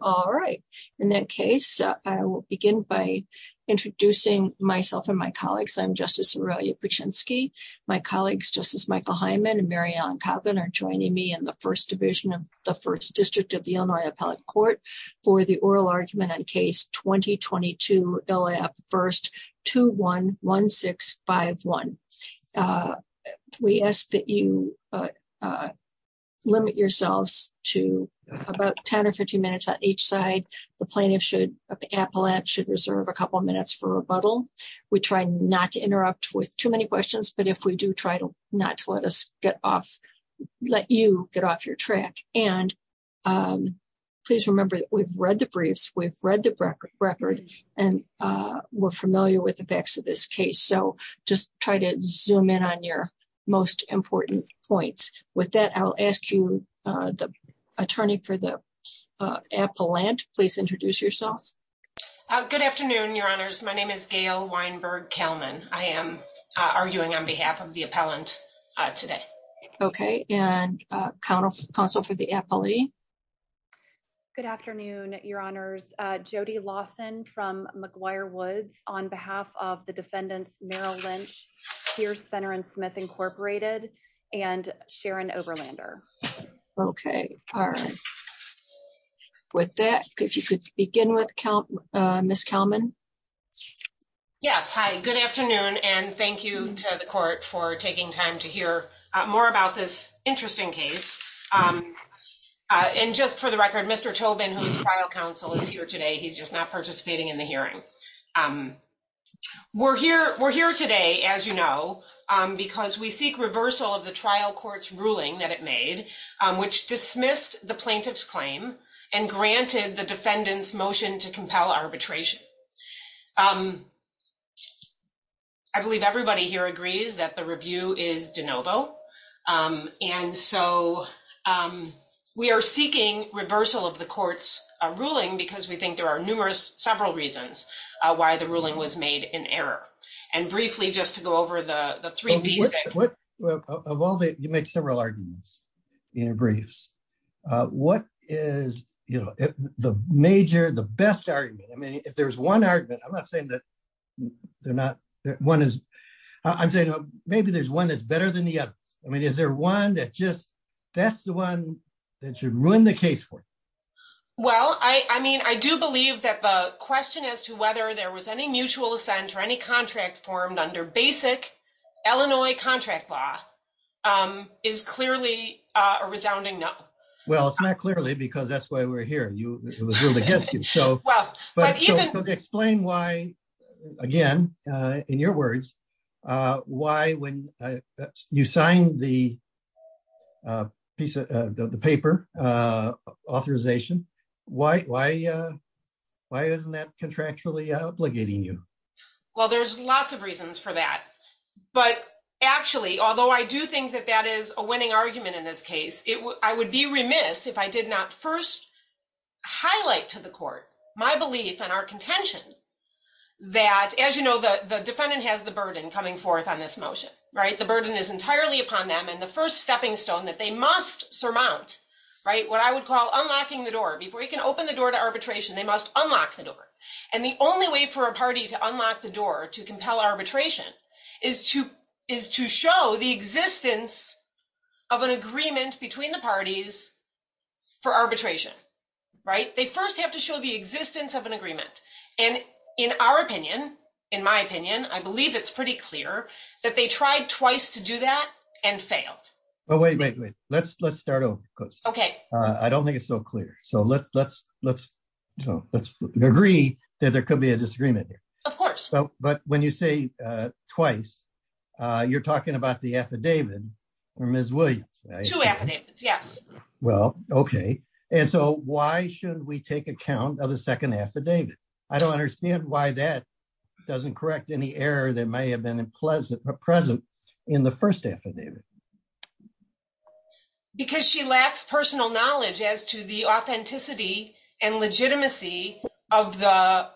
All right. In that case, I will begin by introducing myself and my colleagues. I'm Justice Aurelia Puczynski. My colleagues, Justice Michael Hyman and Mary Ellen Kaplan, are joining me in the First Division of the First District of the Illinois Appellate Court for the Oral Argument on Case 2022, LAP 1-21-1651. We ask that you limit yourselves about 10 or 15 minutes on each side. The plaintiff of the appellate should reserve a couple of minutes for rebuttal. We try not to interrupt with too many questions, but if we do, try not to let you get off your track. Please remember that we've read the briefs, we've read the record, and we're familiar with the facts of this case. So just try to for the appellant. Please introduce yourself. Good afternoon, Your Honors. My name is Gail Weinberg Kalmin. I am arguing on behalf of the appellant today. Okay. And counsel for the appellee. Good afternoon, Your Honors. Jody Lawson from McGuire Woods on behalf of the defendants, Merrill Lynch, Pierce, Fenner, and Smith, Incorporated, and Sharon Overlander. Okay. With that, if you could begin with Ms. Kalmin. Yes. Hi. Good afternoon, and thank you to the court for taking time to hear more about this interesting case. And just for the record, Mr. Tobin, who is trial counsel, is here today. He's just not participating in the hearing. We're here today, as you know, because we seek reversal of the trial court's ruling that it made, which dismissed the plaintiff's claim and granted the defendant's motion to compel arbitration. I believe everybody here agrees that the review is de novo. And so we are seeking reversal of the why the ruling was made in error. And briefly, just to go over the three... Of all the... You make several arguments in your briefs. What is the major, the best argument? I mean, if there's one argument, I'm not saying that they're not... I'm saying maybe there's one that's better than the other. I mean, is there one that just... That's the one that should ruin the case for you? Well, I mean, I do believe that the question as to whether there was any mutual assent or any contract formed under basic Illinois contract law is clearly a resounding no. Well, it's not clearly because that's why we're here. It was really against you. So explain why, again, in your words, why when you signed the paper authorization, why isn't that contractually obligating you? Well, there's lots of reasons for that. But actually, although I do think that that is a winning argument in this case, I would be remiss if I did not first highlight to the court my belief and our contention that, as you know, the defendant has the burden coming forth on this motion. The burden is entirely upon them. And the first stepping stone that they must surmount, what I would call unlocking the door. Before you can open the door to arbitration, they must unlock the door. And the only way for a party to unlock the door to compel arbitration is to show the existence of an agreement between the parties for arbitration, right? They first have to show the existence of an agreement. And in our opinion, in my opinion, I believe it's pretty clear that they tried twice to do that and failed. Oh, wait, wait, wait. Let's start over. Okay. I don't think it's so clear. So let's agree that there could be a disagreement here. Of course. But when you say twice, you're talking about the affidavit or Ms. Williams, right? Two affidavits, yes. Well, okay. And so why should we take account of the second affidavit? I don't understand why that doesn't correct any error that may have been present in the first affidavit. Because she lacks personal knowledge as to the authenticity and legitimacy of the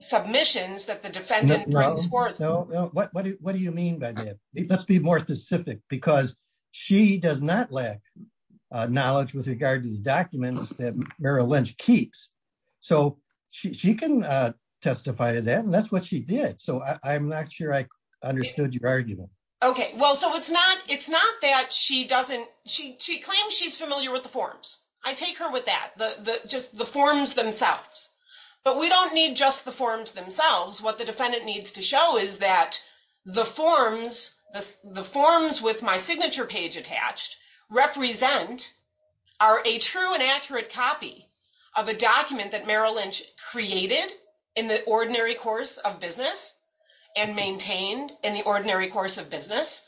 submissions that the defendant brings forth. What do you mean by that? Let's be more specific, because she does not lack knowledge with regard to the documents that Merrill Lynch keeps. So she can testify to that. And that's what she did. So I'm not sure I understood your argument. Okay. Well, so it's not that she doesn't... She claims she's familiar with the forms. I take her with that, just the forms themselves. But we don't need just the forms themselves. What the defendant needs to show is that the forms with my signature page attached represent are a true and accurate copy of a document that Merrill Lynch created in the ordinary course of business and maintained in the ordinary course of business.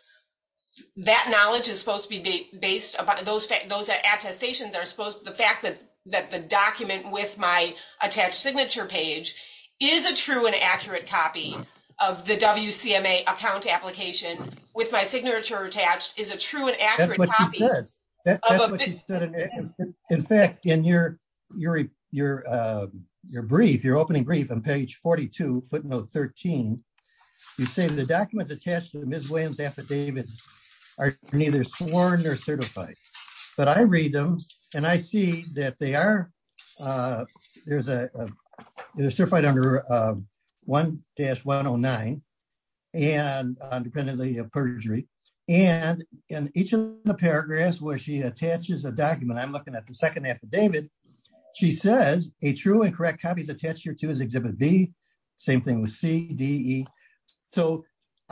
That knowledge is supposed to be based upon... Those attestations are supposed... The fact that the document with my signature page is a true and accurate copy of the WCMA account application with my signature attached is a true and accurate copy. That's what she says. In fact, in your opening brief on page 42, footnote 13, you say the documents attached to Ms. Williams' affidavits are neither sworn nor certified. But I read them and I see that they are... They're certified under 1-109 and independently of perjury. And in each of the paragraphs where she attaches a document, I'm looking at the second affidavit, she says a true and correct copy is attached here too as exhibit B. Same thing with C, D, E. So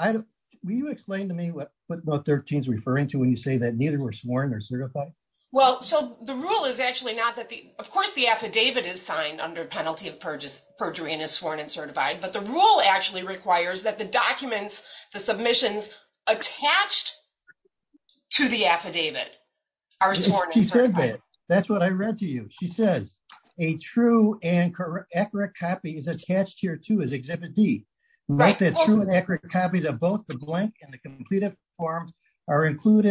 will you explain to me what footnote 13 is referring to when you say that neither were sworn or certified? Well, so the rule is actually not that the... Of course, the affidavit is signed under penalty of perjury and is sworn and certified, but the rule actually requires that the documents, the submissions attached to the affidavit are sworn and certified. She said that. That's what I read to you. She says a true and accurate copy is attached here too as exhibit D. Not that true and accurate copies of both the blank and included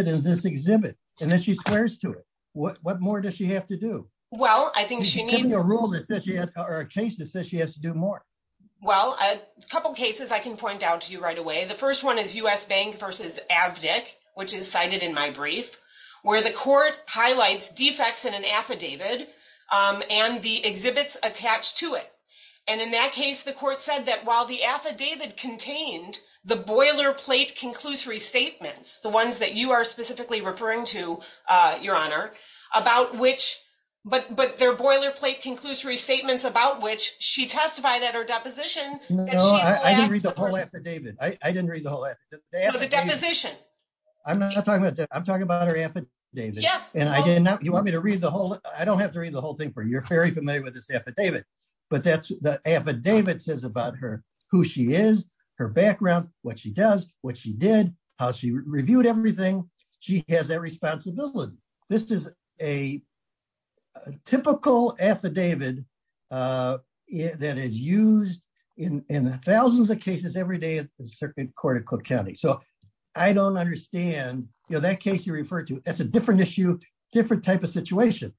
in this exhibit. And then she squares to it. What more does she have to do? Well, I think she needs... Give me a rule that says she has... Or a case that says she has to do more. Well, a couple of cases I can point out to you right away. The first one is U.S. Bank versus Avdic, which is cited in my brief, where the court highlights defects in an affidavit and the exhibits attached to it. And in that case, the court said that while the affidavit contained the boilerplate conclusory statements, the ones that you are specifically referring to, Your Honor, about which... But their boilerplate conclusory statements about which she testified at her deposition... No, I didn't read the whole affidavit. I didn't read the whole affidavit. The deposition. I'm not talking about... I'm talking about her affidavit. Yes. And I did not... You want me to read the whole... I don't have to read the whole thing for you. You're very familiar with this affidavit. But the affidavit says about her, who she is, her background, what she does, what she did, how she reviewed everything. She has that responsibility. This is a typical affidavit that is used in thousands of cases every day at the Circuit Court of Cook County. So I don't understand... That case you referred to, that's a different issue, different type of situation.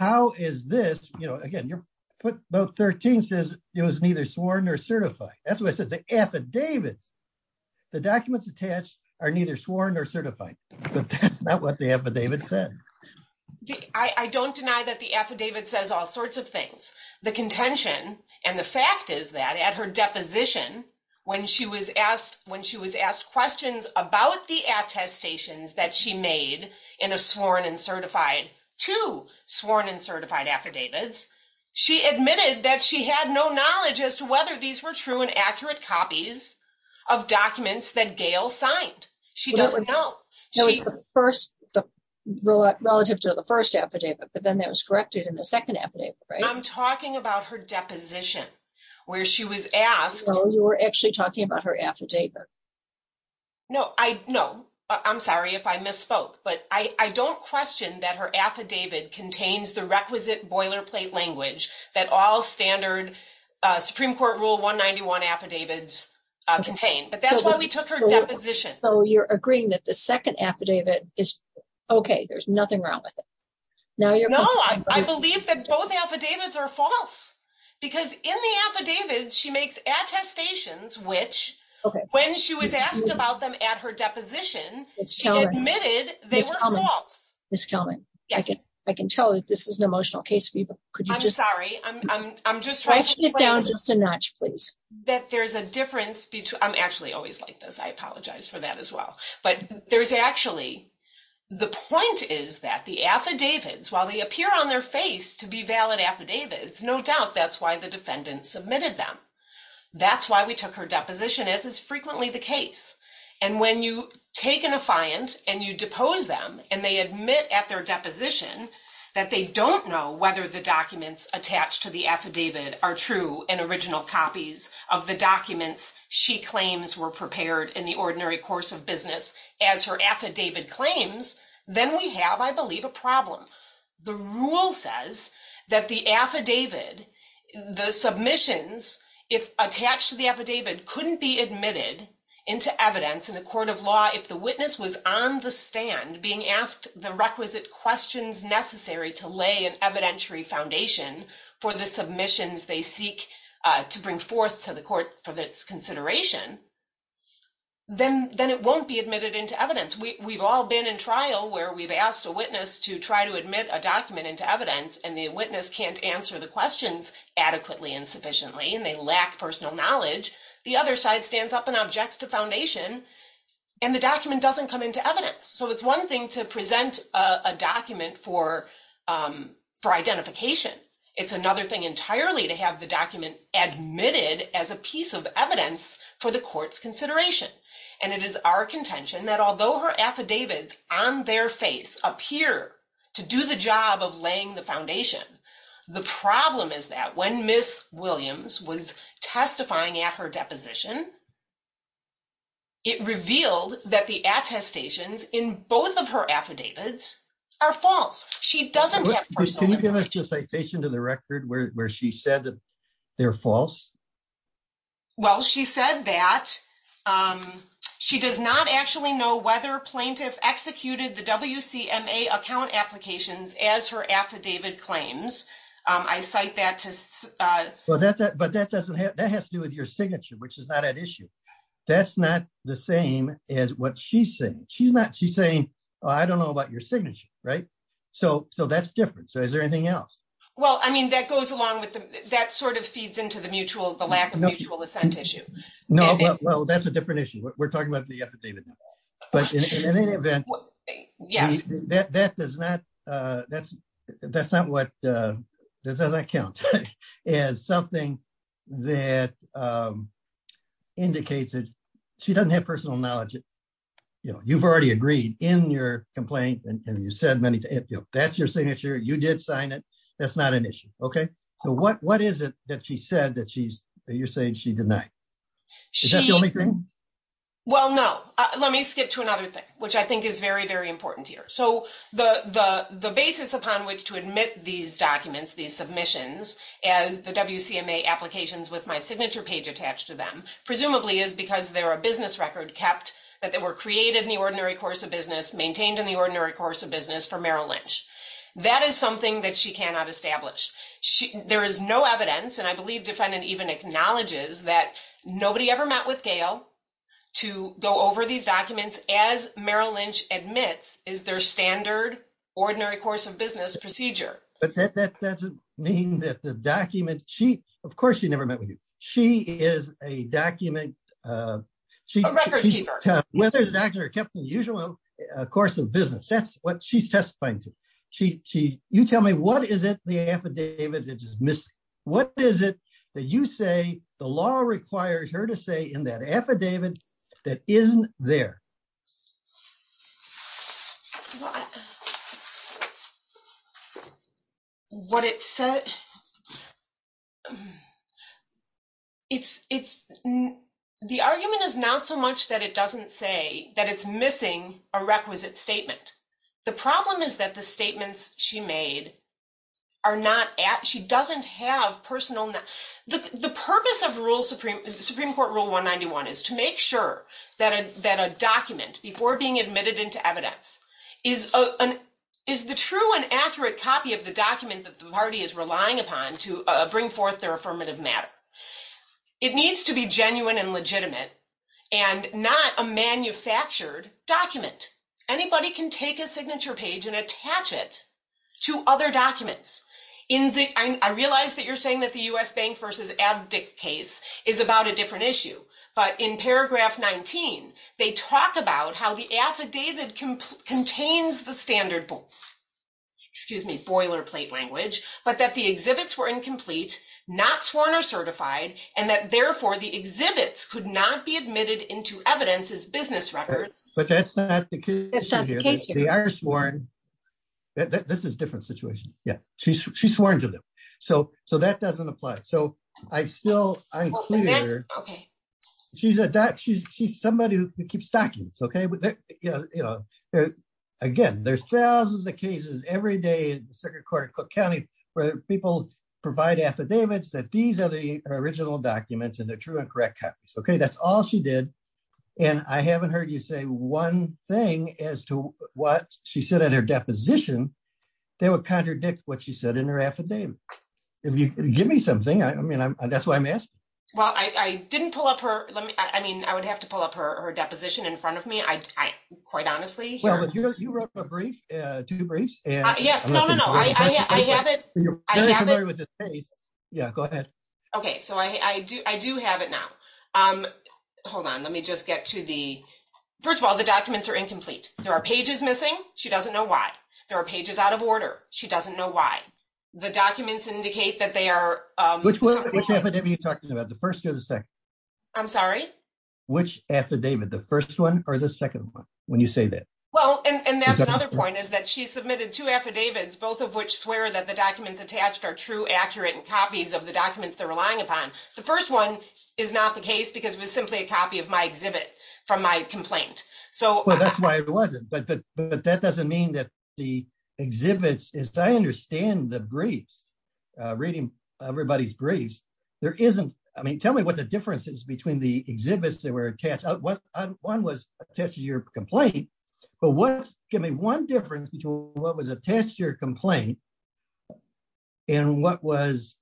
How is this... Again, your footnote 13 says it was neither sworn or certified. That's what I said. The affidavits, the documents attached are neither sworn or certified. But that's not what the affidavit said. I don't deny that the affidavit says all sorts of things. The contention and the fact is that at her deposition, when she was asked questions about the attestations that she made in a sworn and certified, two sworn and certified affidavits, she admitted that she had no knowledge as to whether these were true and accurate copies of documents that Gail signed. She doesn't know. That was the first, relative to the first affidavit, but then that was corrected in the second affidavit, right? I'm talking about her deposition, where she was asked... No, you were actually talking about her affidavit. No, I'm sorry if I misspoke, but I don't question that her affidavit contains the requisite boilerplate language that all standard Supreme Court Rule 191 affidavits contain, but that's why we took her deposition. So you're agreeing that the second affidavit is... Okay, there's nothing wrong with it. No, I believe that both affidavits are false, because in the affidavit, she makes attestations, which when she was asked about them at her deposition, she admitted they were false. Ms. Kelman, I can tell that this is an emotional case for you, but could you just... I'm sorry, I'm just trying to explain... Write it down just a notch, please. ...that there's a difference between... I'm actually always like this, I apologize for that as well, but there's actually... The point is that the affidavits, while they appear on their face to be valid affidavits, no doubt that's why the defendant submitted them. That's why we took her deposition, as is frequently the case. And when you take an affiant and you depose them, and they admit at their deposition that they don't know whether the documents attached to the affidavit are true and original copies of the documents she claims were prepared in the ordinary course of business as her affidavit claims, then we have, I believe, a problem. The rule says that the affidavit, the submissions, if attached to the affidavit couldn't be admitted into evidence in a court of law, if the witness was on the stand being asked the requisite questions necessary to lay an evidentiary foundation for the submissions they seek to bring forth to the court for this consideration, then it won't be admitted into evidence. We've all been in trial where we've asked a witness to try to admit a document into evidence and the witness can't answer the questions adequately and sufficiently, and they lack personal knowledge. The other side stands up and objects to foundation and the document doesn't come into evidence. So it's one thing to present a document for identification. It's another thing entirely to have the document admitted as a piece of evidence for the court's consideration. And it is our contention that although her affidavits on their face appear to do the job of laying the foundation, the problem is that when Ms. Williams was testifying at her deposition, it revealed that the attestations in both of her affidavits are false. She doesn't have personal knowledge. Can you give us the citation to the record where she said that they're false? Well, she said that she does not actually know whether plaintiff executed the WCMA account applications as her affidavit claims. I cite that to... Well, but that has to do with your signature, which is not at issue. That's not the same as what she's saying. She's saying, I don't know about your signature, right? So that's different. So is there anything else? Well, I mean, that goes along with... That sort of feeds into the lack of mutual assent issue. No, well, that's a different issue. We're talking about the affidavit. But in any event, that's not what... That doesn't count as something that indicates that she doesn't have personal knowledge. You've already agreed in your complaint and you said many... That's your signature. You did sign it. That's not an issue. So what is it that she said that you're saying she denied? Is that the only thing? Well, no. Let me skip to another thing, which I think is very, very important here. So the basis upon which to admit these documents, these submissions, as the WCMA applications with my signature page attached to them, presumably is because they're a business record kept, that they were created in the ordinary course of business for Merrill Lynch. That is something that she cannot establish. There is no evidence, and I believe defendant even acknowledges that nobody ever met with Gail to go over these documents as Merrill Lynch admits is their standard ordinary course of business procedure. But that doesn't mean that the document... Of course, she never met with you. She is a document... A record keeper. Whether it's actually kept in the usual course of business, that's what she's testifying to. You tell me, what is it, the affidavit that is missing? What is it that you say the law requires her to say in that affidavit that isn't there? Well, what it said... The argument is not so much that it doesn't say that it's missing a requisite statement. The problem is that the statements she made are not at... She doesn't have personal... The purpose of Supreme Court Rule 191 is to make sure that a document before being admitted into evidence is the true and accurate copy of the document that the party is relying upon to bring forth their affirmative matter. It needs to be genuine and legitimate and not a manufactured document. Anybody can take a signature page and attach it to other documents. I realize that you're saying the U.S. Bank v. Abdick case is about a different issue, but in paragraph 19, they talk about how the affidavit contains the standard boilerplate language, but that the exhibits were incomplete, not sworn or certified, and that therefore the exhibits could not be admitted into evidence as business records. But that's not the case here. They are sworn... This is a different situation. Yeah, she's sworn to them. So that doesn't apply. So I'm still... I'm clear. She's somebody who keeps documents, okay? Again, there's thousands of cases every day in the circuit court in Cook County where people provide affidavits that these are the original documents and they're true and correct copies, okay? That's all she did. And I haven't heard you say one thing as to what she said in her deposition that would contradict what she said in her affidavit. Give me something. I mean, that's why I'm asking. Well, I didn't pull up her... I mean, I would have to pull up her deposition in front of me, quite honestly. Well, you wrote a brief, two briefs. Yes. No, no, no. I have it. You're very familiar with this case. Yeah, go ahead. Okay. So I do have it now. Hold on. Let me just get to the... First of all, the documents are incomplete. There are pages missing. She doesn't know why. There are pages out of order. She doesn't know why. The documents indicate that they are... Which affidavit are you talking about? The first or the second? I'm sorry? Which affidavit? The first one or the second one when you say that? Well, and that's another point is that she submitted two affidavits, both of which swear that the documents attached are true, accurate, and copies of the documents they're relying upon. The first one is not the case because it was simply a copy of my exhibit from my complaint. So... Well, that's why it wasn't. But that doesn't mean that the exhibits... As I understand the briefs, reading everybody's briefs, there isn't... I mean, tell me what the difference is between the exhibits that were attached. One was attached to your complaint, but what's... Give me one difference between what was attached to your complaint and what was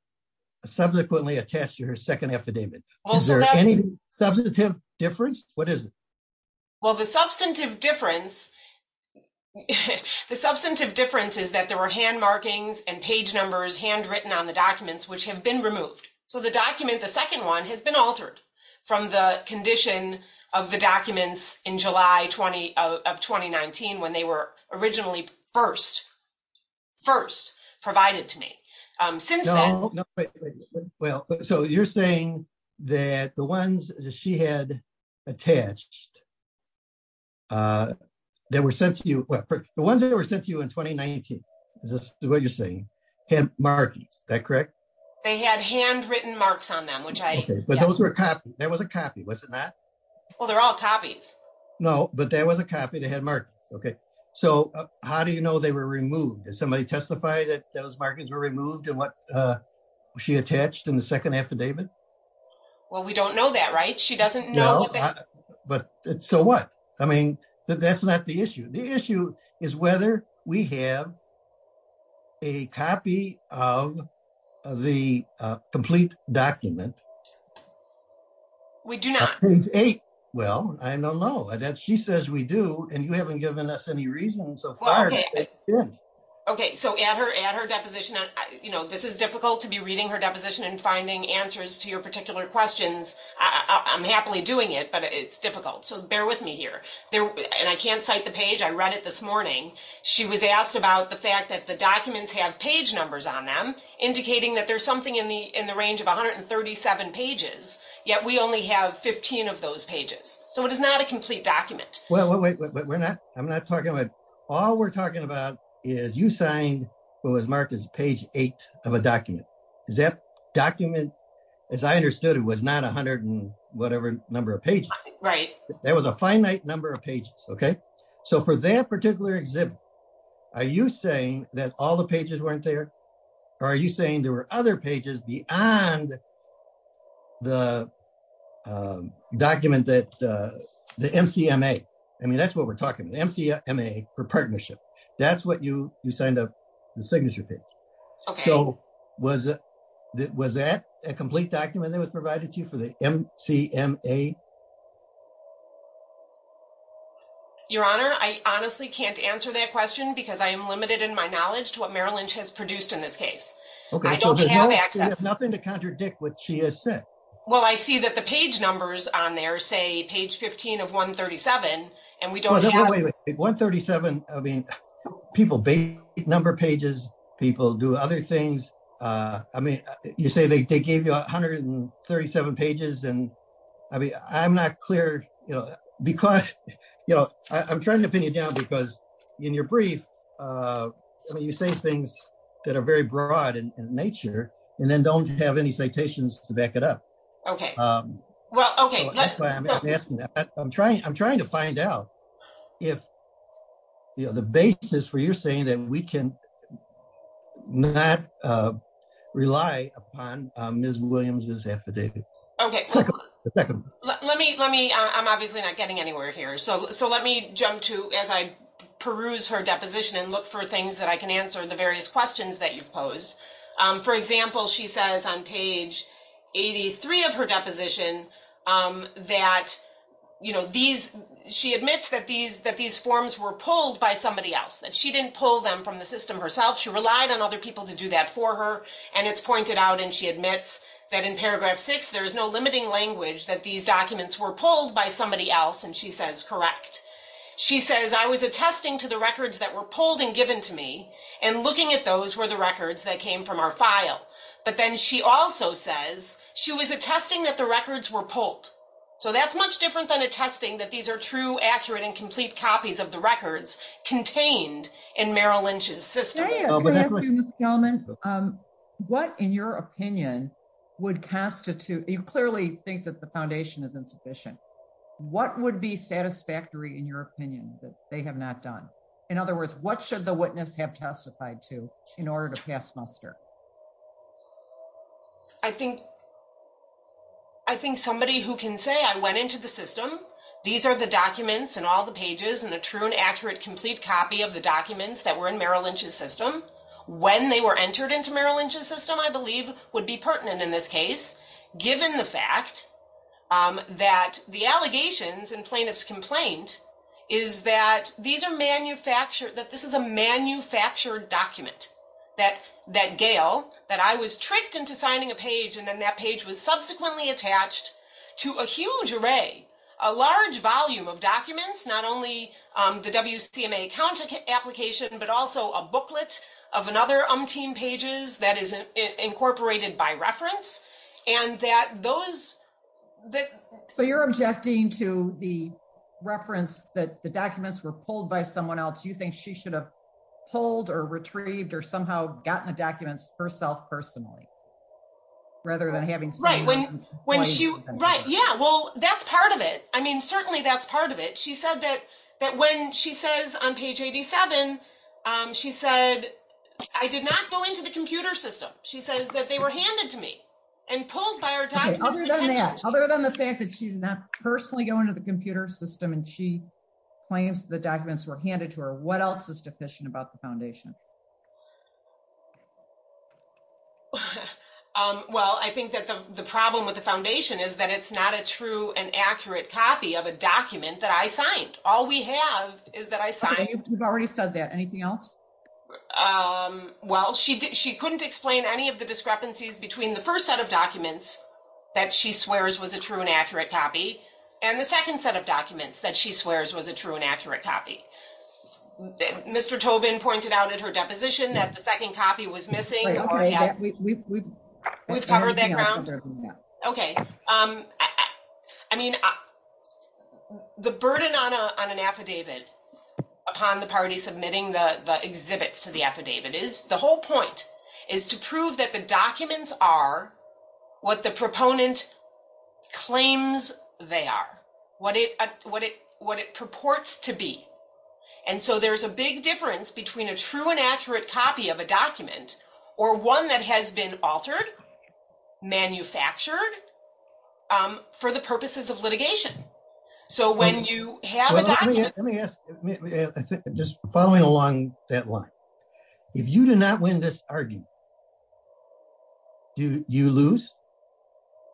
subsequently attached to her second affidavit. Is there any substantive difference? What is it? Well, the substantive difference... The substantive difference is that there were hand markings and page numbers handwritten on the documents which have been removed. So the document, the second one, has been altered from the condition of the documents in July of 2019 when they were originally first provided to me. Since then... Well, so you're saying that the ones that she had attached that were sent to you... Well, the ones that were sent to you in 2019, is this what you're saying? Hand markings, is that correct? They had handwritten marks on them, which I... Okay, but those were copies. That was a copy, was it not? Well, they're all copies. No, but that was a copy. They had markings, okay. So how do you know they were removed? Did somebody testify that those markings were removed and what she attached in the second affidavit? Well, we don't know that, right? She doesn't know. No, but so what? I mean, that's not the issue. The issue is whether we have a copy of the complete document. We do not. Well, I don't know. She says we do, and you haven't given us any reason so far. Okay, so add her deposition. This is difficult to be reading her deposition and finding answers to your particular questions. I'm happily doing it, but it's difficult. So bear with me here. And I can't cite the page. I read it this morning. She was asked about the fact that the documents have page numbers on them indicating that there's something in the range of 137 pages, yet we only have 15 of those pages. So it is not a complete document. Well, wait, we're not. I'm not talking about. All we're talking about is you signed what was marked as page eight of a document. Is that document, as I understood it, was not a hundred and whatever number of pages. Right. There was a finite number of pages, okay. So for that particular exhibit, are you saying that all the pages weren't there? Or are you saying there were other pages beyond the document that the MCMA, I mean, that's what we're talking about, the MCMA for partnership. That's what you signed up, the signature page. So was that a complete document that was provided to you for the MCMA? Your Honor, I honestly can't answer that question because I am limited in my knowledge to what Merrill Lynch has produced in this case. Okay. I don't have access. You have nothing to contradict what she has said. Well, I see that the page numbers on there say page 15 of 137 and we don't have. Wait, 137, I mean, people number pages, people do other things. I mean, you say they gave you 137 pages and I mean, I'm not clear, you know, because, you know, I'm trying to pin you down because in your brief, I mean, you say things that are very broad in nature and then don't have any citations to back it up. Okay. Well, okay. I'm asking that. I'm trying to find out if the basis for you saying that we can not rely upon Ms. Williams's affidavit. Okay. Let me, I'm obviously not getting anywhere here. So let me jump to as I peruse her deposition and look for things that I can answer the various questions that you've posed. For example, she says on page 83 of her deposition that, you know, these, she admits that these forms were pulled by somebody else, that she didn't pull them from the system herself. She relied on other people to do that for her and it's pointed out and she admits that in paragraph six, there is no limiting language that these documents were pulled by somebody else. And she says, correct. She says, I was attesting to the records that were pulled and given to me and looking at those were the records that came from our file. But then she also says she was attesting that the records were pulled. So that's much different than attesting that these are true, accurate, and complete copies of the records contained in Merrill Lynch's system. What in your opinion would constitute, you clearly think that the foundation is insufficient. What would be satisfactory in your opinion that they have not done? In other words, what should the witness have testified to in order to pass muster? I think, I think somebody who can say, I went into the system, these are the documents and all the pages and the true and accurate, complete copy of the documents that were in Merrill Lynch's system. When they were entered into Merrill Lynch's system, I believe would be pertinent in this case, given the fact that the allegations and plaintiff's complaint is that these are manufactured, that this is a manufactured document that, that Gail, that I was tricked into signing a page. And then that page was subsequently attached to a huge array, a large volume of documents, not only the WCMA counter application, but also a booklet of another umpteen pages that is incorporated by reference and that those. So you're objecting to the reference that the documents were pulled by someone else. You think she should have pulled or retrieved or somehow gotten the documents herself personally, rather than having. Right. When, when she, right. Yeah. Well, that's part of it. I mean, she said I did not go into the computer system. She says that they were handed to me and pulled by her. Other than that, other than the fact that she's not personally going to the computer system and she claims the documents were handed to her. What else is deficient about the foundation? Well, I think that the problem with the foundation is that it's not a true and accurate copy of a document that I signed. All we have is that I signed. You've already said that. Anything else? Well, she didn't, she couldn't explain any of the discrepancies between the first set of documents that she swears was a true and accurate copy. And the second set of documents that she swears was a true and accurate copy. Mr. Tobin pointed out at her deposition that the second copy was missing. We've covered that ground. Okay. I mean, the burden on a, on an affidavit upon the party submitting the exhibits to the affidavit is the whole point is to prove that the documents are what the proponent claims they are. What it, what it, what it purports to be. And so there's a big difference between a true and accurate copy of a document or one that has been altered, manufactured, um, for the purposes of litigation. So when you have a document. Let me ask, just following along that line, if you do not win this argument, do you lose?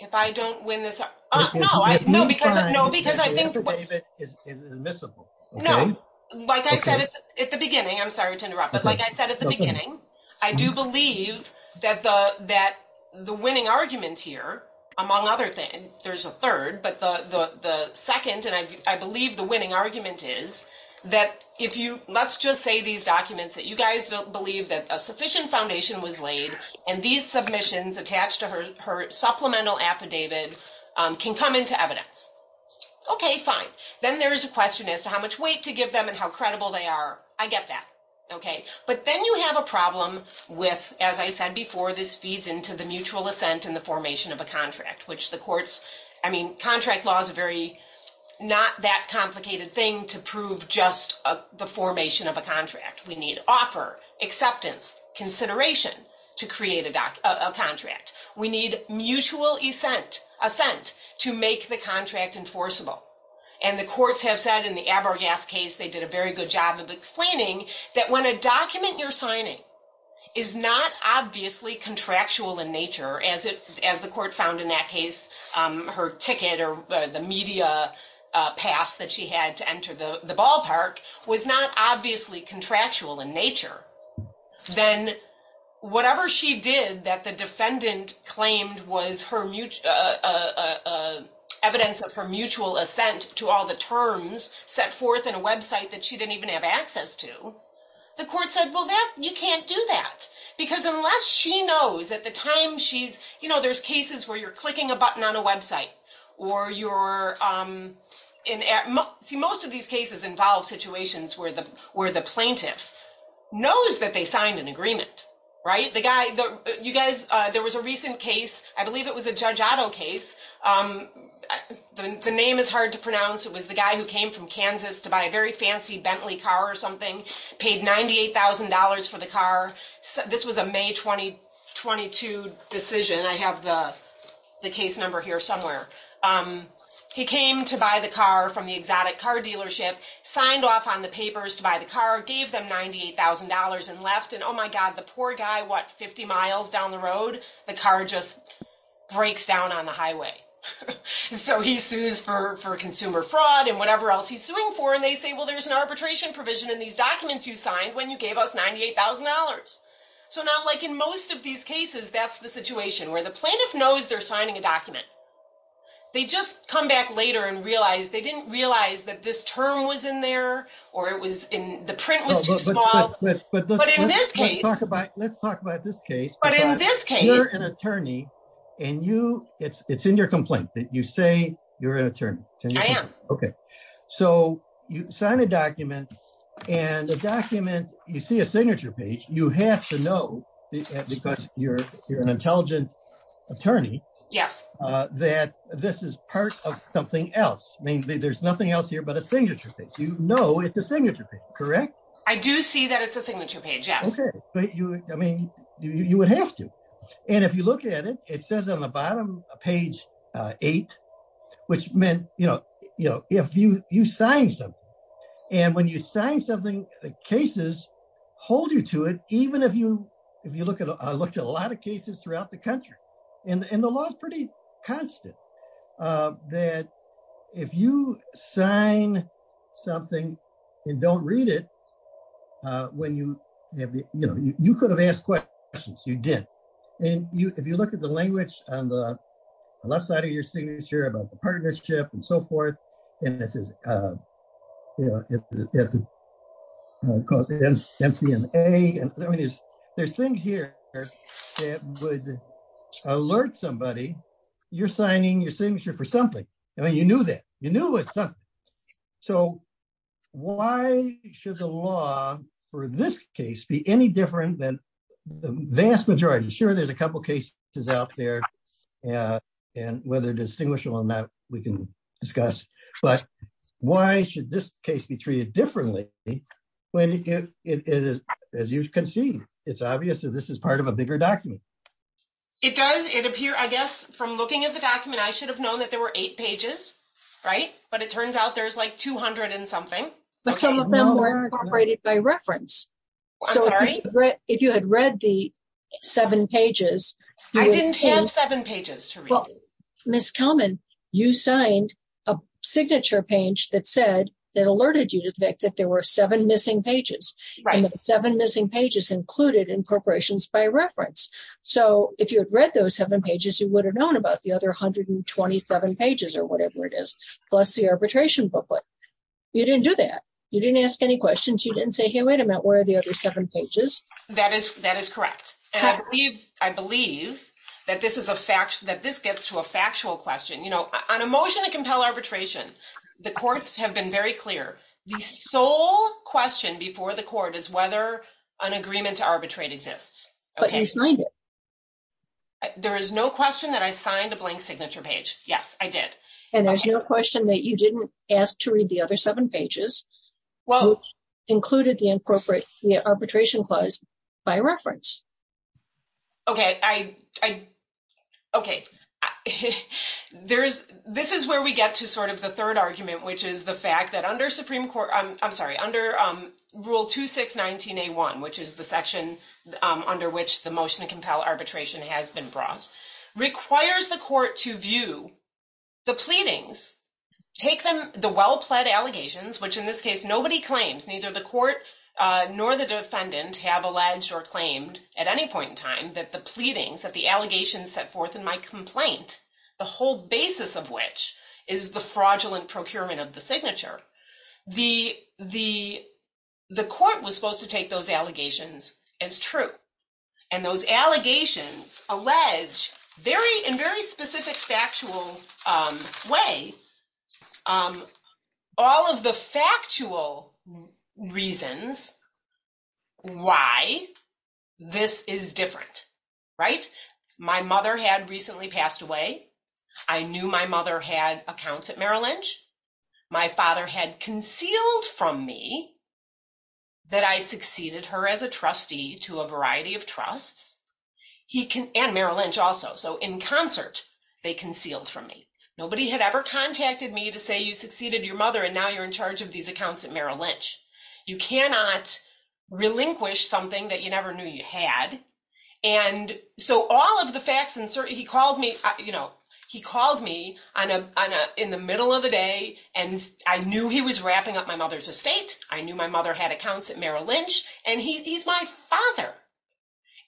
If I don't win this? Uh, no, I, no, because, no, because I think the affidavit is admissible. No, like I said at the beginning, I'm sorry to I do believe that the, that the winning argument here among other things, there's a third, but the, the, the second, and I, I believe the winning argument is that if you, let's just say these documents that you guys don't believe that a sufficient foundation was laid and these submissions attached to her, her supplemental affidavit, um, can come into evidence. Okay, fine. Then there's a question as to how much weight to give them and how credible they are. I get that. Okay. But then you have a problem with, as I said before, this feeds into the mutual assent and the formation of a contract, which the courts, I mean, contract law is a very, not that complicated thing to prove just the formation of a contract. We need offer, acceptance, consideration to create a doc, a contract. We need mutual assent, assent to make the contract enforceable. And the courts have said in the Abergas case, they did a very good job of explaining that when a document you're signing is not obviously contractual in nature, as it, as the court found in that case, um, her ticket or the media, uh, pass that she had to enter the ballpark was not obviously contractual in nature. Then whatever she did that the defendant claimed was her mute, uh, uh, uh, evidence of her mutual assent to all the terms set forth in a website that she didn't even have access to the court said, well, that you can't do that because unless she knows at the time, she's, you know, there's cases where you're clicking a button on a website or you're, um, in most of these cases involve situations where the, where the plaintiff knows that they signed an agreement, right? The guy that you guys, uh, there was a recent case, I believe it was a judge case. Um, the name is hard to pronounce. It was the guy who came from Kansas to buy a very fancy Bentley car or something paid $98,000 for the car. So this was a May 20, 22 decision. I have the, the case number here somewhere. Um, he came to buy the car from the exotic car dealership, signed off on the papers to buy the car, gave them $98,000 and left. And oh my God, the poor guy, what, 50 miles down the road, the car just breaks down on the highway. So he sues for, for consumer fraud and whatever else he's suing for. And they say, well, there's an arbitration provision in these documents you signed when you gave us $98,000. So now like in most of these cases, that's the situation where the plaintiff knows they're signing a document. They just come back later and realize they didn't realize that this term was in there or it was in print. Let's talk about this case. You're an attorney and you it's, it's in your complaint that you say you're an attorney. Okay. So you sign a document and the document, you see a signature page. You have to know because you're, you're an intelligent attorney that this is part of something else. I mean, there's nothing else here, but a signature page, you know, it's a signature page, correct? I do see that it's a signature page. Yes. Okay. But you, I mean, you would have to. And if you look at it, it says on the bottom, page eight, which meant, you know, you know, if you, you sign something and when you sign something, the cases hold you to it. Even if you, if you look at, I looked at a lot of cases throughout the country and the law is pretty constant, that if you sign something and don't read it, when you have the, you know, you could have asked questions, you didn't. And you, if you look at the language on the left side of your signature about the partnership and so forth, and this is, you know, MCMA. I mean, there's, there's things here that would alert somebody you're signing your signature for something. I mean, you knew that you knew it. So why should the law for this case be any different than the vast majority? Sure. There's a couple of cases out there and whether distinguishable or not, we can discuss, but why should this case be treated differently when it is, as you can see, it's obvious that this is part of a bigger document. It does, it appear, I guess, from looking at the document, I should have known that there were eight pages, right? But it turns out there's like 200 and something. But some of them were incorporated by reference. I'm sorry? If you had read the seven pages. I didn't have seven pages to read. Well, Ms. Kelman, you signed a signature page that said, that alerted you to the fact that there were seven missing pages. Right. Seven missing pages included incorporations by reference. So if you had read those seven pages, you would have known about the other 127 pages or whatever it is. Plus the arbitration booklet. You didn't do that. You didn't ask any questions. You didn't say, hey, wait a minute, where are the other seven pages? That is, that is correct. And I believe, I believe that this is a fact that this gets to a factual question. You know, on a motion to compel arbitration, the courts have been very clear. The sole question before the court is whether an agreement to arbitrate exists. But you signed it. There is no question that I signed a blank signature page. Yes, I did. And there's no question that you didn't ask to read the other seven pages, which included the incorporation, the arbitration clause by reference. Okay. I, I, okay. There's, this is where we get to sort of the third argument, which is the fact that under Supreme Court, I'm sorry, under rule 2619A1, which is the section under which the motion to compel arbitration has been brought, requires the court to view the pleadings, take them, the well-pled allegations, which in this case, nobody claims, neither the court nor the defendant have alleged or claimed at any point in time that the pleadings, that the allegations set forth in my complaint, the whole basis of which is the fraudulent procurement of the signature. The, the, the court was supposed to take those allegations as true. And those allegations allege very, in very specific factual way, all of the factual reasons why this is different, right? My mother had recently passed away. I knew my mother had accounts at Merrill Lynch. My father had concealed from me that I succeeded her as a trustee to a variety of trusts. He can, and Merrill Lynch also. So in concert, they concealed from me. Nobody had ever contacted me to say, you succeeded your mother, and now you're in charge of these accounts at Merrill Lynch. You cannot relinquish something that you never knew you had. And so all of the facts and certain, he called me, you know, he called me on a, on a, in the middle of the day. And I knew he was wrapping up my mother's estate. I knew my mother had accounts at Merrill Lynch and he, he's my father.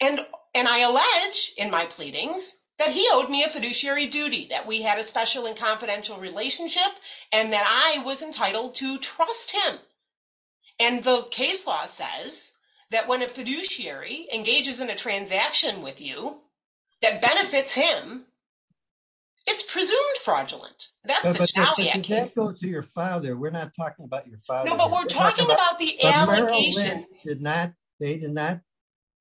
And, and I allege in my pleadings that he owed me a fiduciary duty, that we had a special and confidential relationship and that I was entitled to trust him. And the case law says that when a fiduciary engages in a transaction with you, that benefits him, it's presumed fraudulent. We're not talking about your father. No, but we're talking about the allegations. They did not,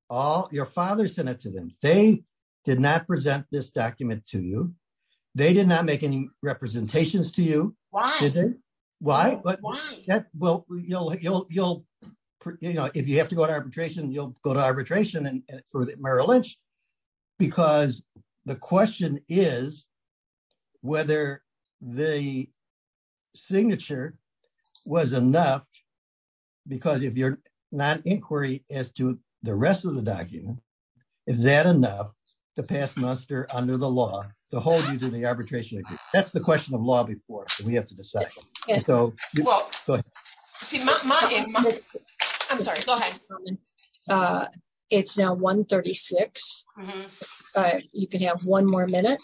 all your father sent it to them. They did not present this document to you. They did not make any representations to you. Why? Why? Well, you'll, you'll, you'll, you know, if you have to go to arbitration, you'll go to arbitration and for Merrill Lynch, because the non-inquiry as to the rest of the document, is that enough to pass muster under the law to hold you to the arbitration? That's the question of law before we have to decide. I'm sorry. Go ahead. It's now 1 36. You can have one more minute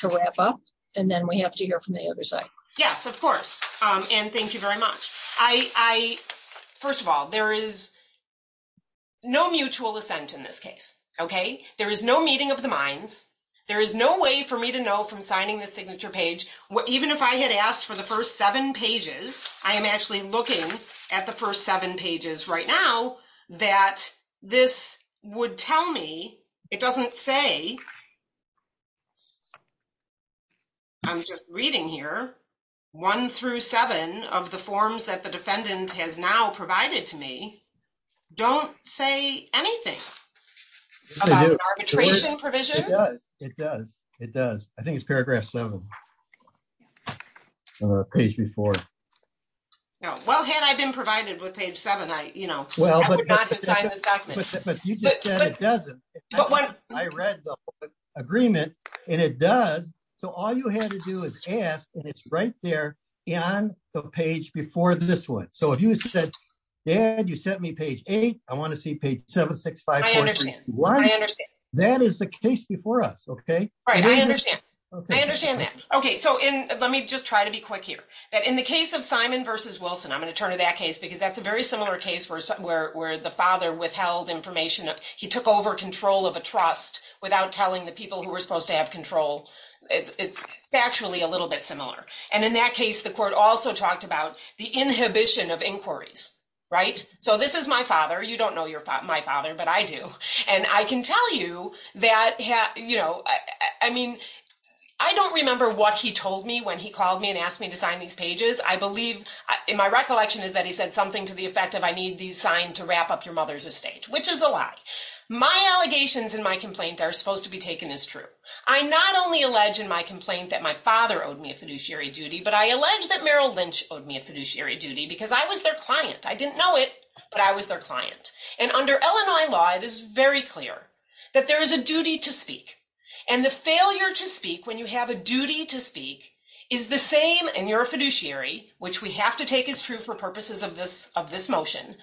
to wrap up and then we have to hear from the other side. Yes, of course. And thank you very much. I, I, first of all, there is no mutual assent in this case. Okay. There is no meeting of the minds. There is no way for me to know from signing the signature page. Even if I had asked for the first seven pages, I am actually looking at the first seven pages right now that this would tell me it doesn't say. I'm just reading here one through seven of the forms that the defendant has now provided to me. Don't say anything about arbitration provision. It does. It does. I think it's paragraph seven page before. No. Well, had I been provided with page seven, I, you know, well, but you just said it doesn't, but when I read the agreement and it does, so all you had to do is ask and it's right there on the page before this one. So if you said, dad, you sent me page eight, I want to see page seven, six, five. I understand that is the case before us. Okay. All right. I understand. I understand that. Okay. So in, let me just try to be quick here that in the case of Simon versus Wilson, I'm going to turn to that case because that's a very similar case where, where, where the father withheld information. He took over control of a trust without telling the people who were supposed to have control. It's factually a little bit similar. And in that case, the court also talked about the inhibition of inquiries, right? So this is my father. You don't know your father, my father, but I do. And I can tell you that, you know, I mean, I don't remember what he told me when he called me and asked me to sign these pages. I believe in my recollection is that he said something to the effect of, I need these signed to wrap up your mother's estate, which is a lie. My allegations in my complaint are supposed to be taken as true. I not only allege in my complaint that my father owed me a fiduciary duty, but I allege that Merrill Lynch owed me a fiduciary duty because I was their client. I didn't know it, but I was their client. And under Illinois law, it is very clear that there is a duty to speak and the failure to speak when you have a duty to speak is the same in your fiduciary, which we have to take as true for purposes of this motion.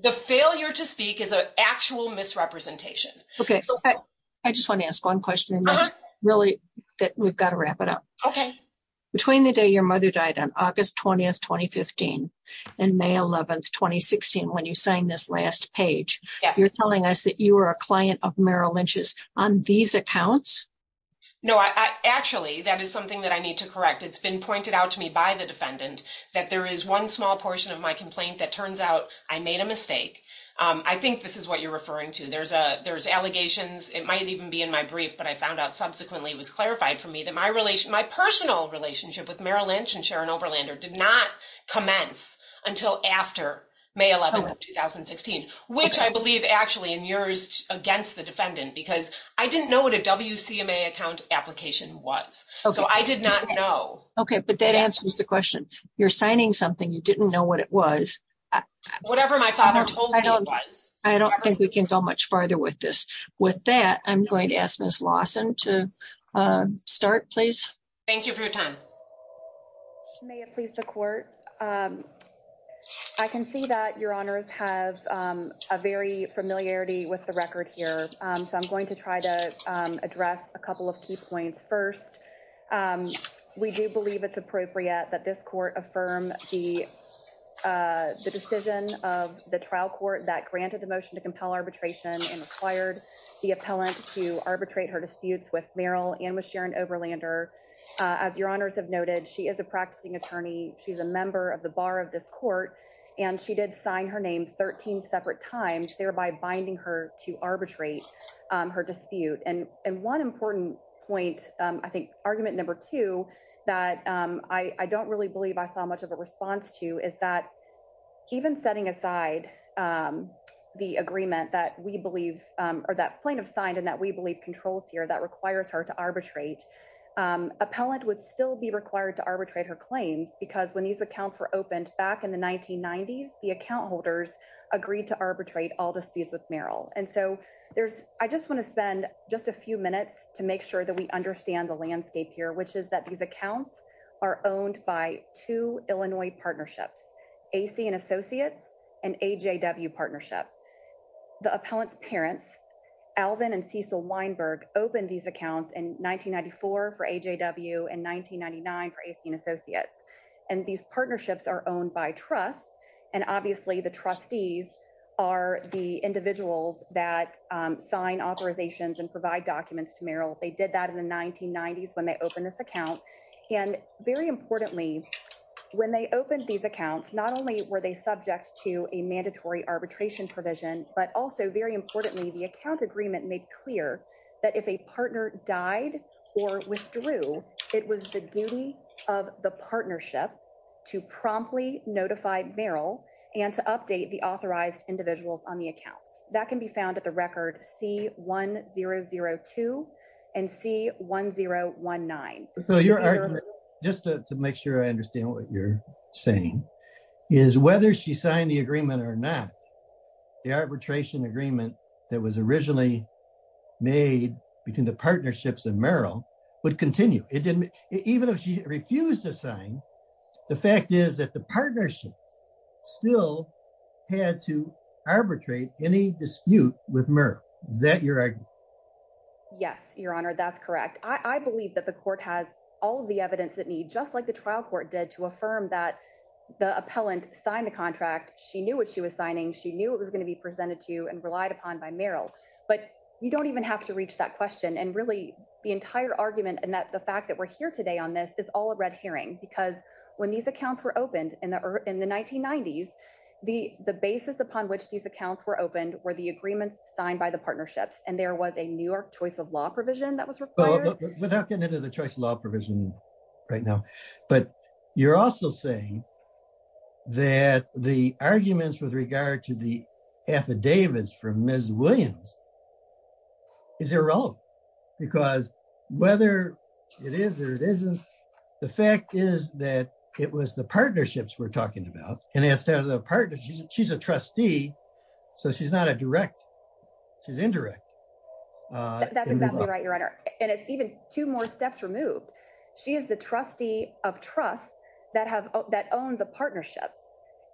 The failure to speak is an actual misrepresentation. Okay. I just want to ask one question really that we've got to wrap it up. Okay. Between the day your mother died on August 20th, 2015 and May 11th, 2016, when you signed this last page, you're telling us that you were a client of Merrill Lynch's on these accounts. No, I actually, that is something that I need to correct. It's been pointed out to me by the defendant that there is one small portion of my complaint that turns out I made a mistake. I think this is what you're referring to. There's allegations, it might even be in my brief, but I found out subsequently it was clarified for me that my personal relationship with Merrill Lynch and Sharon Oberlander did not commence until after May 11th, 2016, which I believe actually in yours against the defendant, because I didn't know what a WCMA account application was. So I did not know. Okay. But that answers the question. You're signing something. You didn't know what it was. Whatever my father told me it was. I don't think we can go much farther with this. With that, I'm going to ask Ms. Lawson to start, please. Thank you for your time. May it please the court. I can see that your honors has a very familiarity with the record here. So I'm going to try to address a couple of key points. First, we do believe it's appropriate that this court affirm the decision of the trial court that granted the motion to compel arbitration and required the appellant to arbitrate her disputes with Merrill and with Sharon Oberlander. As your honors have noted, she is a practicing attorney. She's a member of the bar of this court, and she did sign her name 13 separate times, thereby binding her to arbitrate her dispute. And one important point, I think argument number two, that I don't really believe I saw much of a response to is that even setting aside the agreement that we believe or that plaintiff signed and that we believe controls here that requires her to arbitrate, appellant would still be required to arbitrate her claims because when these accounts were opened back in the 1990s, the account holders agreed to arbitrate all disputes with Merrill. And so I just want to spend just a few minutes to make sure that we understand the landscape here, which is that these accounts are owned by two Illinois partnerships, AC and Associates and AJW partnership. The appellant's parents, Alvin and Cecil Weinberg, opened these accounts in 1994 for AJW and 1999 for AC and Associates. And these partnerships are owned by trusts, and obviously the trustees are the individuals that sign authorizations and provide documents to Merrill. They did that in the 1990s when they opened this account. And very importantly, when they opened these accounts, not only were they subject to a mandatory arbitration provision, but also very importantly, the account agreement made clear that if a partner died or withdrew, it was the duty of the partnership to promptly notify Merrill and to update the authorized individuals on the accounts. That can be found at the record C-1002 and C-1019. So your argument, just to make sure I understand what you're saying, is whether she signed the agreement or not, the arbitration agreement that was originally made between the partnerships and Merrill would continue. Even if she refused to sign, the fact is that the partnership still had to arbitrate any dispute with Merrill. Is that your argument? Yes, Your Honor, that's correct. I believe that the court has all of the evidence that need just like the trial court did to affirm that the appellant signed the contract. She knew what she was signing. She knew it was going to be presented to and relied upon by Merrill. But you don't even have to reach that question. And really, the entire argument and the fact that we're here today on this is all a red herring because when these accounts were opened in the 1990s, the basis upon which these accounts were opened were the agreements signed by the New York Choice of Law Provision that was required. Without getting into the Choice of Law Provision right now, but you're also saying that the arguments with regard to the affidavits from Ms. Williams is irrelevant because whether it is or it isn't, the fact is that it was the partnerships we're talking about, and instead of the partners, she's a trustee, so she's not a direct, she's indirect. That's exactly right, Your Honor. And it's even two more steps removed. She is the trustee of trust that owns the partnerships.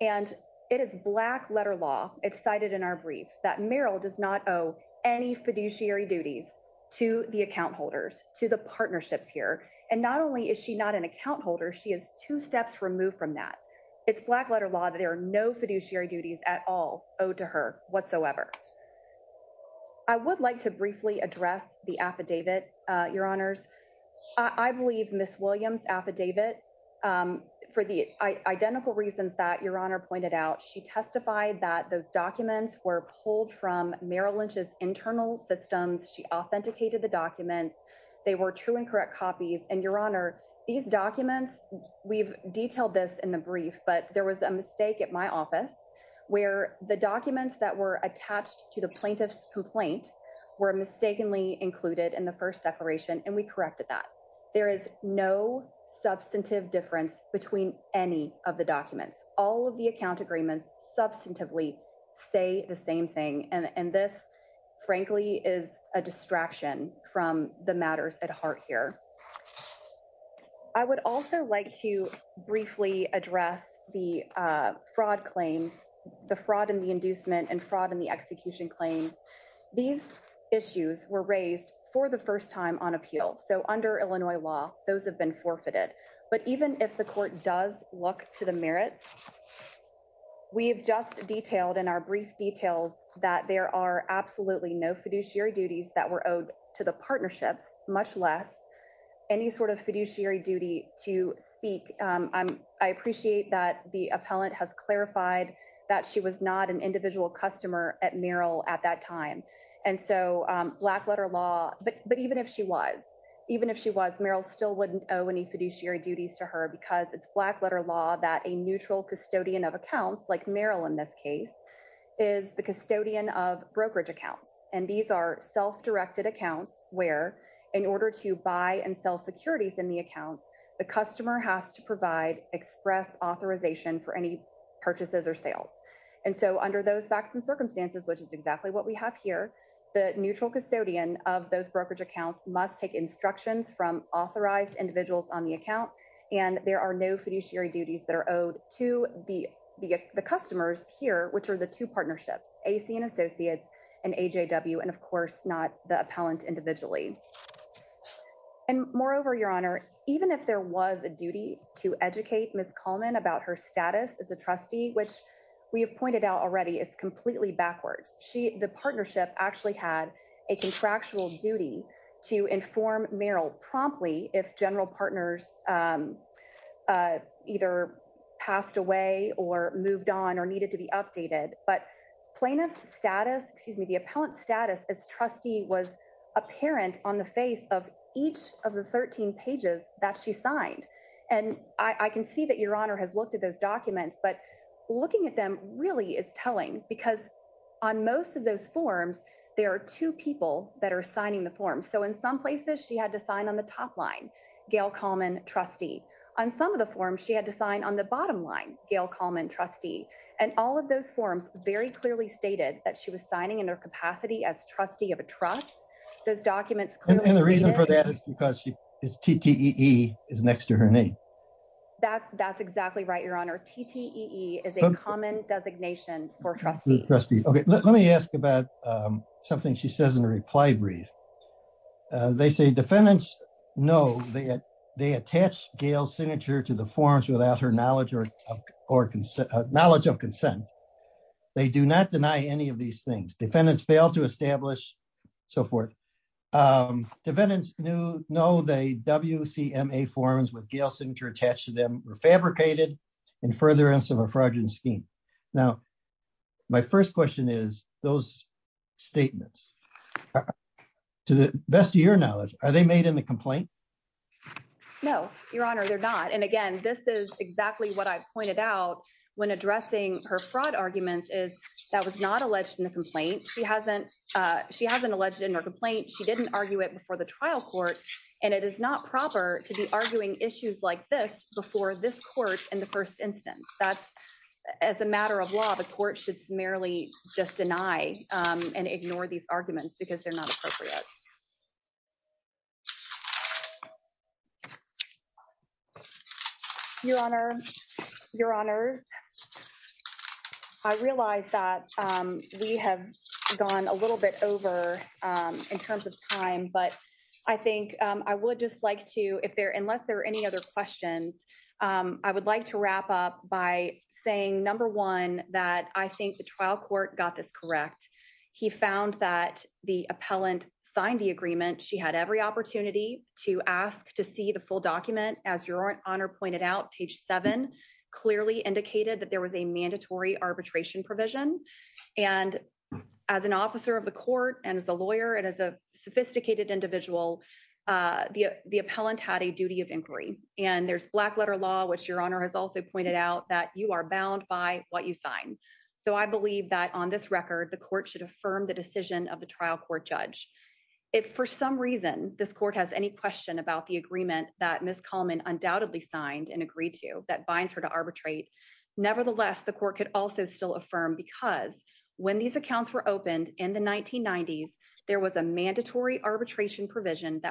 And it is black letter law, it's cited in our brief, that Merrill does not owe any fiduciary duties to the account holders, to the partnerships here. And not only is she not an account holder, she is two steps removed from that. It's black letter law that there are no fiduciary duties at all owed to her whatsoever. I would like to briefly address the affidavit, Your Honors. I believe Ms. Williams' affidavit, for the identical reasons that Your Honor pointed out, she testified that those documents were pulled from Merrill Lynch's internal systems. She authenticated the documents. They were true and correct copies. And Your Honor, these documents, we've detailed this in the brief, but there was a mistake at my office where the documents that were attached to the plaintiff's complaint were mistakenly included in the first declaration, and we corrected that. There is no substantive difference between any of the documents. All of the account agreements substantively say the same thing. And this, frankly, is a distraction from the matters at heart here. I would also like to briefly address the fraud claims, the fraud in the inducement and fraud in the execution claims. These issues were raised for the first time on appeal. So under Illinois law, those have been forfeited. But even if the court does look to the merits, we've just detailed in our brief details that there are absolutely no fiduciary duties that were owed to the partnerships, much less any sort of fiduciary duty to speak. I appreciate that the appellant has clarified that she was not an individual customer at Merrill at that time. And so Blackletter Law, but even if she was, Merrill still wouldn't owe any fiduciary duties to her because it's Blackletter Law that a neutral custodian of accounts, like Merrill in this case, is the custodian of brokerage accounts. And these are self-directed accounts where in order to buy and sell securities in the accounts, the customer has to provide express authorization for any purchases or sales. And so under those facts and circumstances, which is exactly what we have here, the neutral custodian of those brokerage accounts must take instructions from authorized individuals on the account. And there are no fiduciary duties that are owed to the customers here, which are the two partnerships, AC and Associates, and AJW, and of course, not the appellant individually. And moreover, Your Honor, even if there was a duty to educate Ms. Coleman about her status as a trustee, which we have pointed out already is completely backwards, the partnership actually had a contractual duty to inform Merrill promptly if general partners either passed away or moved on or needed to be updated. But plaintiff's status, excuse me, the appellant's status as trustee was apparent on the face of each of the 13 pages that she signed. And I can see that Your Honor has looked at those documents, but looking at them really is telling because on most of those forms, there are two people that are signing the form. So in some places she had to sign on the top line, Gail Coleman, trustee. On some of the forms, she had to sign on the bottom line, Gail Coleman, trustee. And all of those forms very clearly stated that she was signing in her capacity as trustee of a trust. Those documents clearly- And the reason for that is because TTEE is next to her name. That's exactly right, Your Honor. TTEE is a common designation for trustees. Trustee, okay, let me ask about something she says in a reply brief. They say defendants know that they attached Gail's signature to the forms without her knowledge of consent. They do not deny any of these things. Defendants failed to establish, so forth. Defendants know the WCMA forms with Gail's signature attached to them were fabricated in furtherance of a fraudulent scheme. Now, my first question is those statements, to the best of your knowledge, are they made in the complaint? No, Your Honor, they're not. And again, this is exactly what I pointed out when addressing her fraud arguments is that was not alleged in the complaint. She hasn't alleged in her complaint. She didn't argue it before the trial court. And it is not proper to be arguing issues like this before this court in the first instance. As a matter of law, the court should merely just deny and ignore these arguments because they're not appropriate. Your Honor, Your Honors, I realize that we have gone a little bit over in terms of time, but I think I would just like to, if there, unless there are any other questions, I would like to wrap up by saying, number one, that I think the trial court got this correct. He found that the appellant signed the agreement. She had every opportunity to ask to see the full document. As Your Honor pointed out, page seven clearly indicated that there was a mandatory arbitration provision. And as an officer of the court and as the lawyer and as a sophisticated individual, the appellant had a duty of inquiry. And there's black letter law, which Your Honor has also pointed out that you are bound by what you sign. So I believe that on this record, the court should affirm the decision of the trial court judge. If for some reason, this court has any question about the agreement that Ms. Kalman undoubtedly signed and agreed to that binds her to arbitrate. Nevertheless, the court could also still affirm because when these accounts were that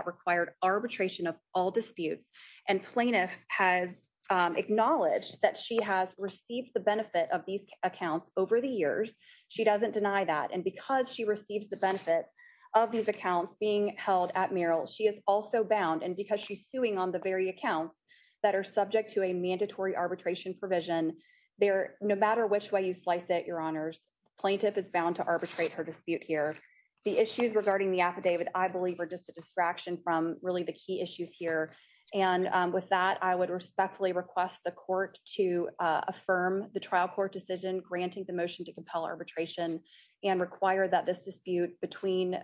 required arbitration of all disputes and plaintiff has acknowledged that she has received the benefit of these accounts over the years, she doesn't deny that. And because she receives the benefit of these accounts being held at Merrill, she is also bound. And because she's suing on the very accounts that are subject to a mandatory arbitration provision there, no matter which way you slice it, Your Honors, plaintiff is bound to arbitrate her dispute here. The issues regarding the affidavit, I believe are just a distraction from really the key issues here. And with that, I would respectfully request the court to affirm the trial court decision granting the motion to compel arbitration and require that this dispute between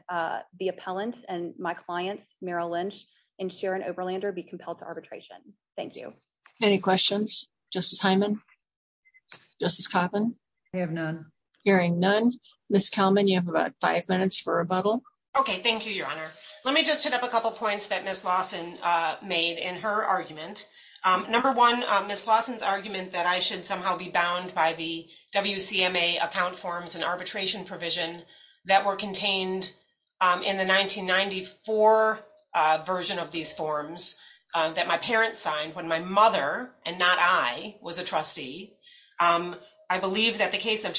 the appellant and my clients, Merrill Lynch and Sharon Oberlander be compelled to arbitration. Thank you. Any questions? Justice Hyman? Justice Coughlin? I have none. Hearing none. Ms. Kalman, you have about five minutes for rebuttal. Okay, thank you, Your Honor. Let me just hit up a couple points that Ms. Lawson made in her argument. Number one, Ms. Lawson's argument that I should somehow be bound by the WCMA account forms and arbitration provision that were contained in the 1994 version of these forms that my parents signed when my mother, and not I, was a trustee. I believe that the case of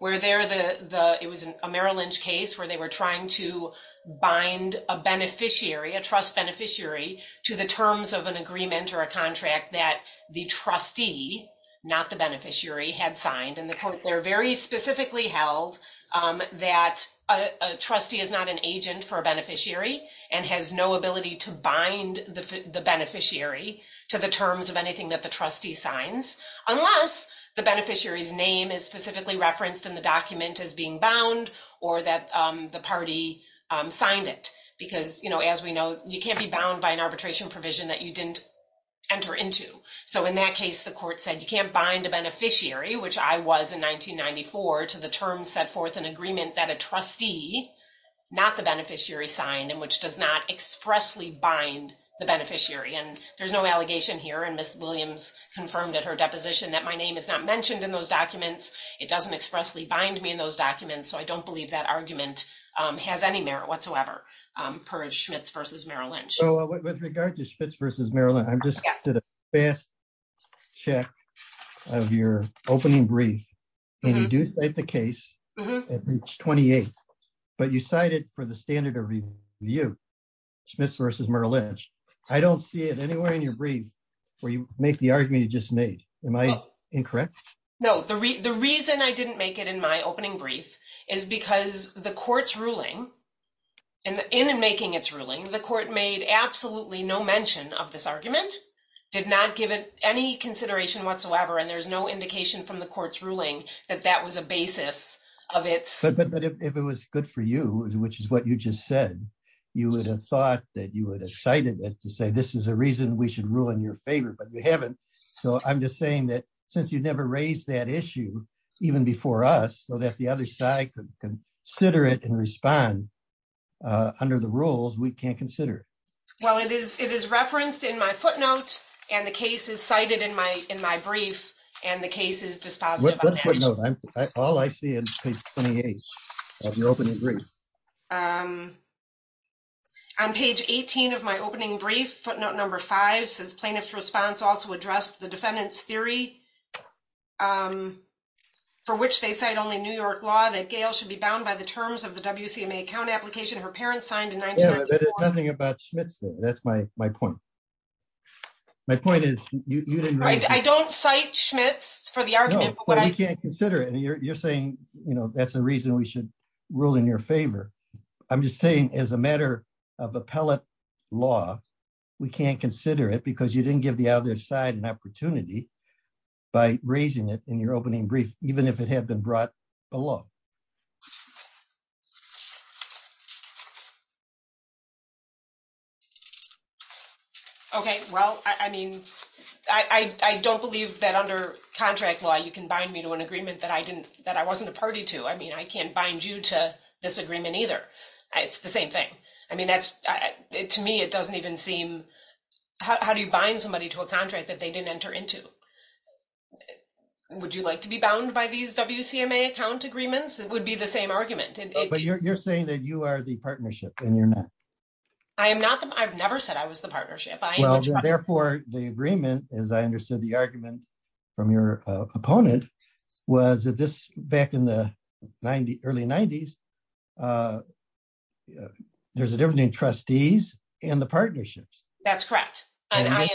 where they're the, it was a Merrill Lynch case where they were trying to bind a beneficiary, a trust beneficiary, to the terms of an agreement or a contract that the trustee, not the beneficiary, had signed. And they're very specifically held that a trustee is not an agent for a beneficiary and has no ability to bind the beneficiary to the terms of anything that the trustee signs unless the beneficiary's name is specifically referenced in the document as being bound or that the party signed it. Because as we know, you can't be bound by an arbitration provision that you didn't enter into. So in that case, the court said you can't bind a beneficiary, which I was in 1994, to the terms set forth in agreement that a trustee, not the beneficiary, signed and which does not expressly bind the beneficiary. And there's no allegation here. And Ms. Williams confirmed at her deposition that my name is not mentioned in those documents. It doesn't expressly bind me in those documents. So I don't believe that argument has any merit whatsoever per Schmitz v. Merrill Lynch. So with regard to Schmitz v. Merrill Lynch, I just did a fast check of your opening brief. And you do cite the case at page 28. But you cited for the standard of review, Schmitz v. Merrill Lynch. I don't see it anywhere in your brief where you make the argument you just made. Am I incorrect? No. The reason I didn't make it in my opening brief is because the court's ruling, in making its ruling, the court made absolutely no mention of this argument, did not give it any consideration whatsoever, and there's no indication from the court's ruling that that was a basis of its... But if it was good for you, which is what you just said, you would have thought that you would have cited it to say, this is a reason we should rule in your favor, but you haven't. So I'm just saying that since you never raised that issue, even before us, so that the other side could consider it and respond under the rules, we can't consider it. Well, it is referenced in my footnote, and the case is cited in my brief, and the case is dispositive of that. What footnote? All I see in page 28 of your opening brief. On page 18 of my opening brief, footnote number five says plaintiff's response also addressed the defendant's theory, for which they cite only New York law that Gail should be bound by the terms of the WCMA account application her parents signed in 1994. Yeah, but it's nothing about Schmitz there. That's my point. My point is you didn't raise... I don't cite Schmitz for the argument, but what I... No, but you can't consider it, and you're saying that's a reason we should rule in your favor. I'm just saying as a matter of appellate law, we can't consider it because you didn't give the other side an opportunity by raising it in your opening brief, even if it had been brought below. Okay, well, I mean, I don't believe that under contract law you can bind me to an agreement that I wasn't a party to. I mean, I can't bind you to this agreement either. It's the same thing. I mean, to me, it doesn't even seem... How do you bind somebody to a contract that they didn't enter into? Would you like to be bound by these WCMA account agreements? It would be the same argument. But you're saying that you are the partnership and you're not. I've never said I was the partnership. Therefore, the agreement, as I understood the argument from your opponent, was that this back in the early 90s, there's a difference between trustees and the partnerships. That's correct.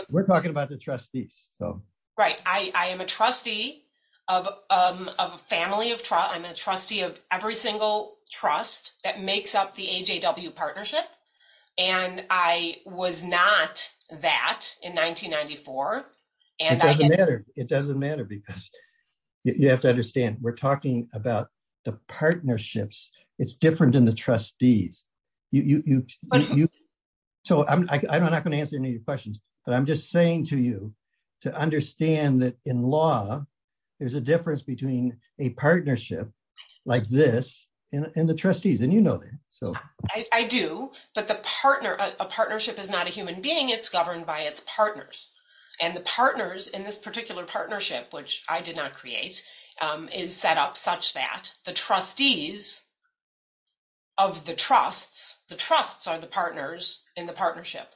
We're talking about the trustees. Right. I am a trustee of a family of... I'm a trustee of every single trust that makes up AJW partnership, and I was not that in 1994. It doesn't matter because you have to understand we're talking about the partnerships. It's different than the trustees. I'm not going to answer any of your questions, but I'm just saying to you to understand that in law, there's a difference between a partnership like this and the trustees, and you know that. I do, but a partnership is not a human being. It's governed by its partners. And the partners in this particular partnership, which I did not create, is set up such that the trustees of the trusts, the trusts are the partners in the partnership.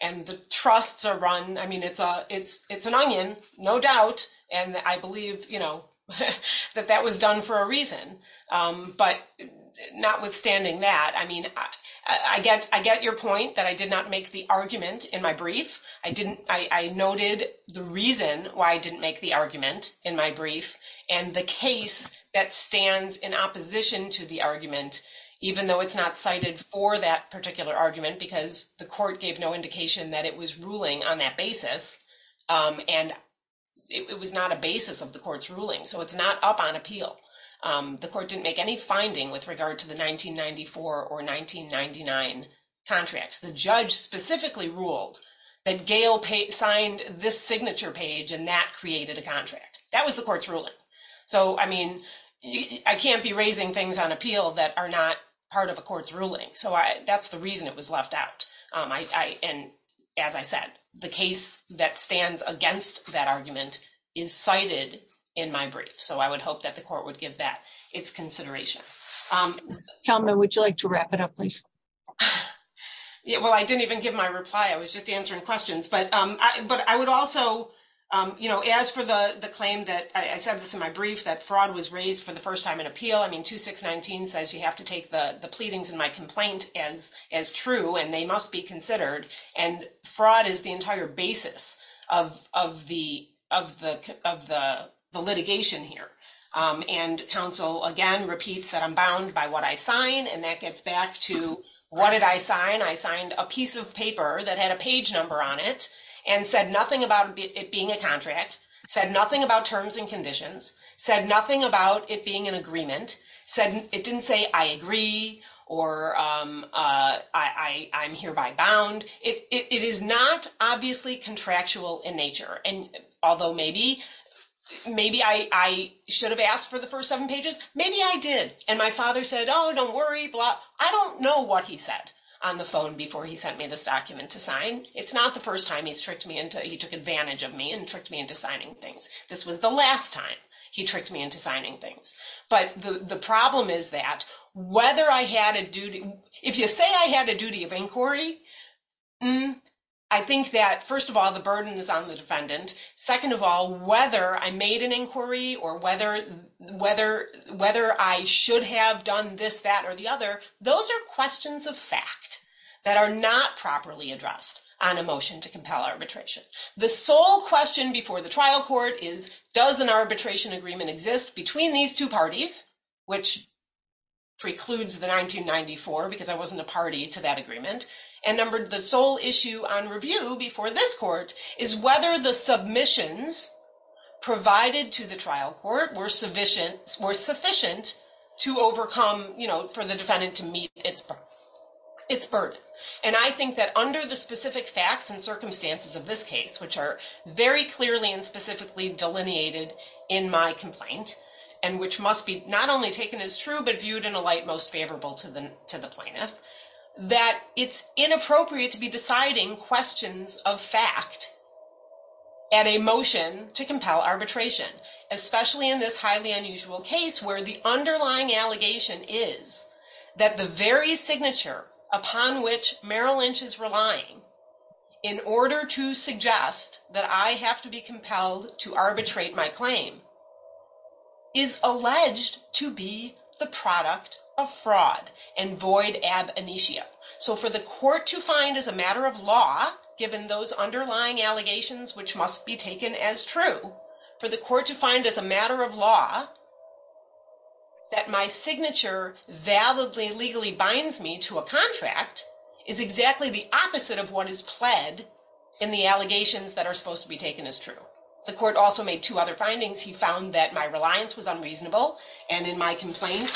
And the trusts are run... It's an onion, no doubt. And I believe that that was done for a reason. But notwithstanding that, I mean, I get your point that I did not make the argument in my brief. I didn't... I noted the reason why I didn't make the argument in my brief and the case that stands in opposition to the argument, even though it's not cited for that particular argument because the court gave no indication that it was ruling on that basis. And it was not a basis of the court's ruling. So it's not up on appeal. The court didn't make any finding with regard to the 1994 or 1999 contracts. The judge specifically ruled that Gail signed this signature page and that created a contract. That was the court's ruling. So, I mean, I can't be raising things on appeal that are not part of a court's ruling. So that's the reason it was left out. And as I said, the case that stands against that argument is cited in my brief. So I would hope that the court would give that its consideration. Ms. Kalman, would you like to wrap it up, please? Well, I didn't even give my reply. I was just answering questions. But I would also, you know, as for the claim that... I said this in my brief, that fraud was raised for the first time in appeal. I mean, 2619 says you have to take the pleadings in my complaint as true and they must be considered. And fraud is the entire basis of the litigation here. And counsel, again, repeats that I'm bound by what I sign. And that gets back to what did I sign? I signed a piece of paper that had a page number on it and said nothing about it being a contract, said nothing about terms and conditions, said nothing about it being an agreement, said it didn't say I agree or I'm hereby bound. It is not obviously contractual in nature. And although maybe I should have asked for the first seven pages, maybe I did. And my father said, oh, don't worry, blah. I don't know what he said on the phone before he sent me this document to sign. It's not the first time he's tricked me into... He took advantage of me and tricked me into signing things. This was the last time he tricked me into signing things. But the problem is that whether I had a duty... If you say I had a duty of inquiry, I think that first of all, the burden is on the defendant. Second of all, whether I made an inquiry or whether I should have done this, that, or the other, those are questions of fact that are not properly addressed on a motion to compel arbitration. The sole question before the trial court is, does an arbitration agreement exist between these two parties, which precludes the 1994, because I wasn't a party to that agreement. And the sole issue on review before this court is whether the submissions provided to the trial court were sufficient to overcome, for the defendant to meet its burden. And I think that under the specific facts and circumstances of this case, which are very clearly and specifically delineated in my complaint, and which must be not only taken as true, but viewed in a light most favorable to the plaintiff, that it's inappropriate to be deciding questions of fact at a motion to compel arbitration, especially in this highly unusual case where the underlying allegation is that the very signature upon which Merrill Lynch is relying in order to suggest that I have to be compelled to arbitrate my claim is alleged to be the product of fraud and void ab initio. So for the court to find as a matter of law, given those underlying allegations, which must be taken as true, for the court to find as a matter of law that my signature validly legally binds me to a contract is exactly the opposite of what is pled in the allegations that are supposed to be taken as true. The court also made two other findings. He found that my reliance was unreasonable. And in my complaint,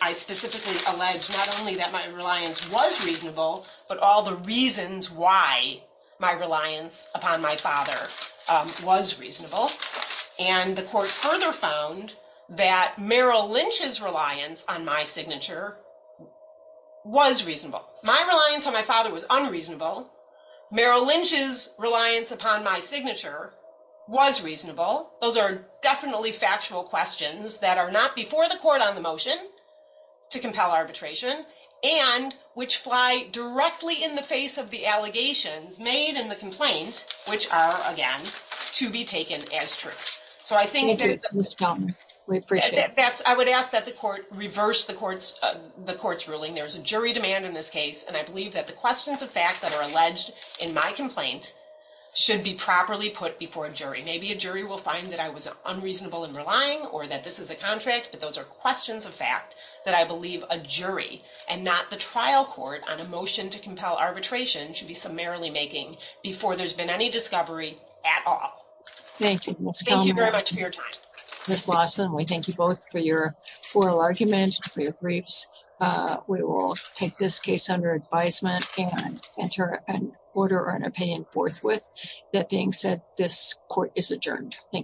I specifically alleged not only that my reliance was reasonable, but all the reasons why my reliance upon my father was reasonable. And the court further found that Merrill Lynch's reliance on my signature was reasonable. My reliance on my father was unreasonable. Merrill Lynch's reliance upon my signature was reasonable. Those are definitely factual questions that are not before the court on the motion to compel arbitration, and which fly directly in the face of the allegations made in the complaint, which are, again, to be taken as true. So I think that's, I would ask that the court reverse the court's ruling. There was a jury demand in this case. And I believe that the questions of fact that are alleged in my complaint should be properly put before a jury. Maybe a jury will find that I was unreasonable in relying or that this is a contract, but those are questions of fact that I believe a jury and not the trial court on a motion to compel arbitration should be summarily making before there's been any discovery at all. Thank you very much for your time. Ms. Lawson, we thank you both for your oral argument, for your briefs. We will take this case under advisement and enter an order or an opinion forthwith. That being said, this court is adjourned. Thank you.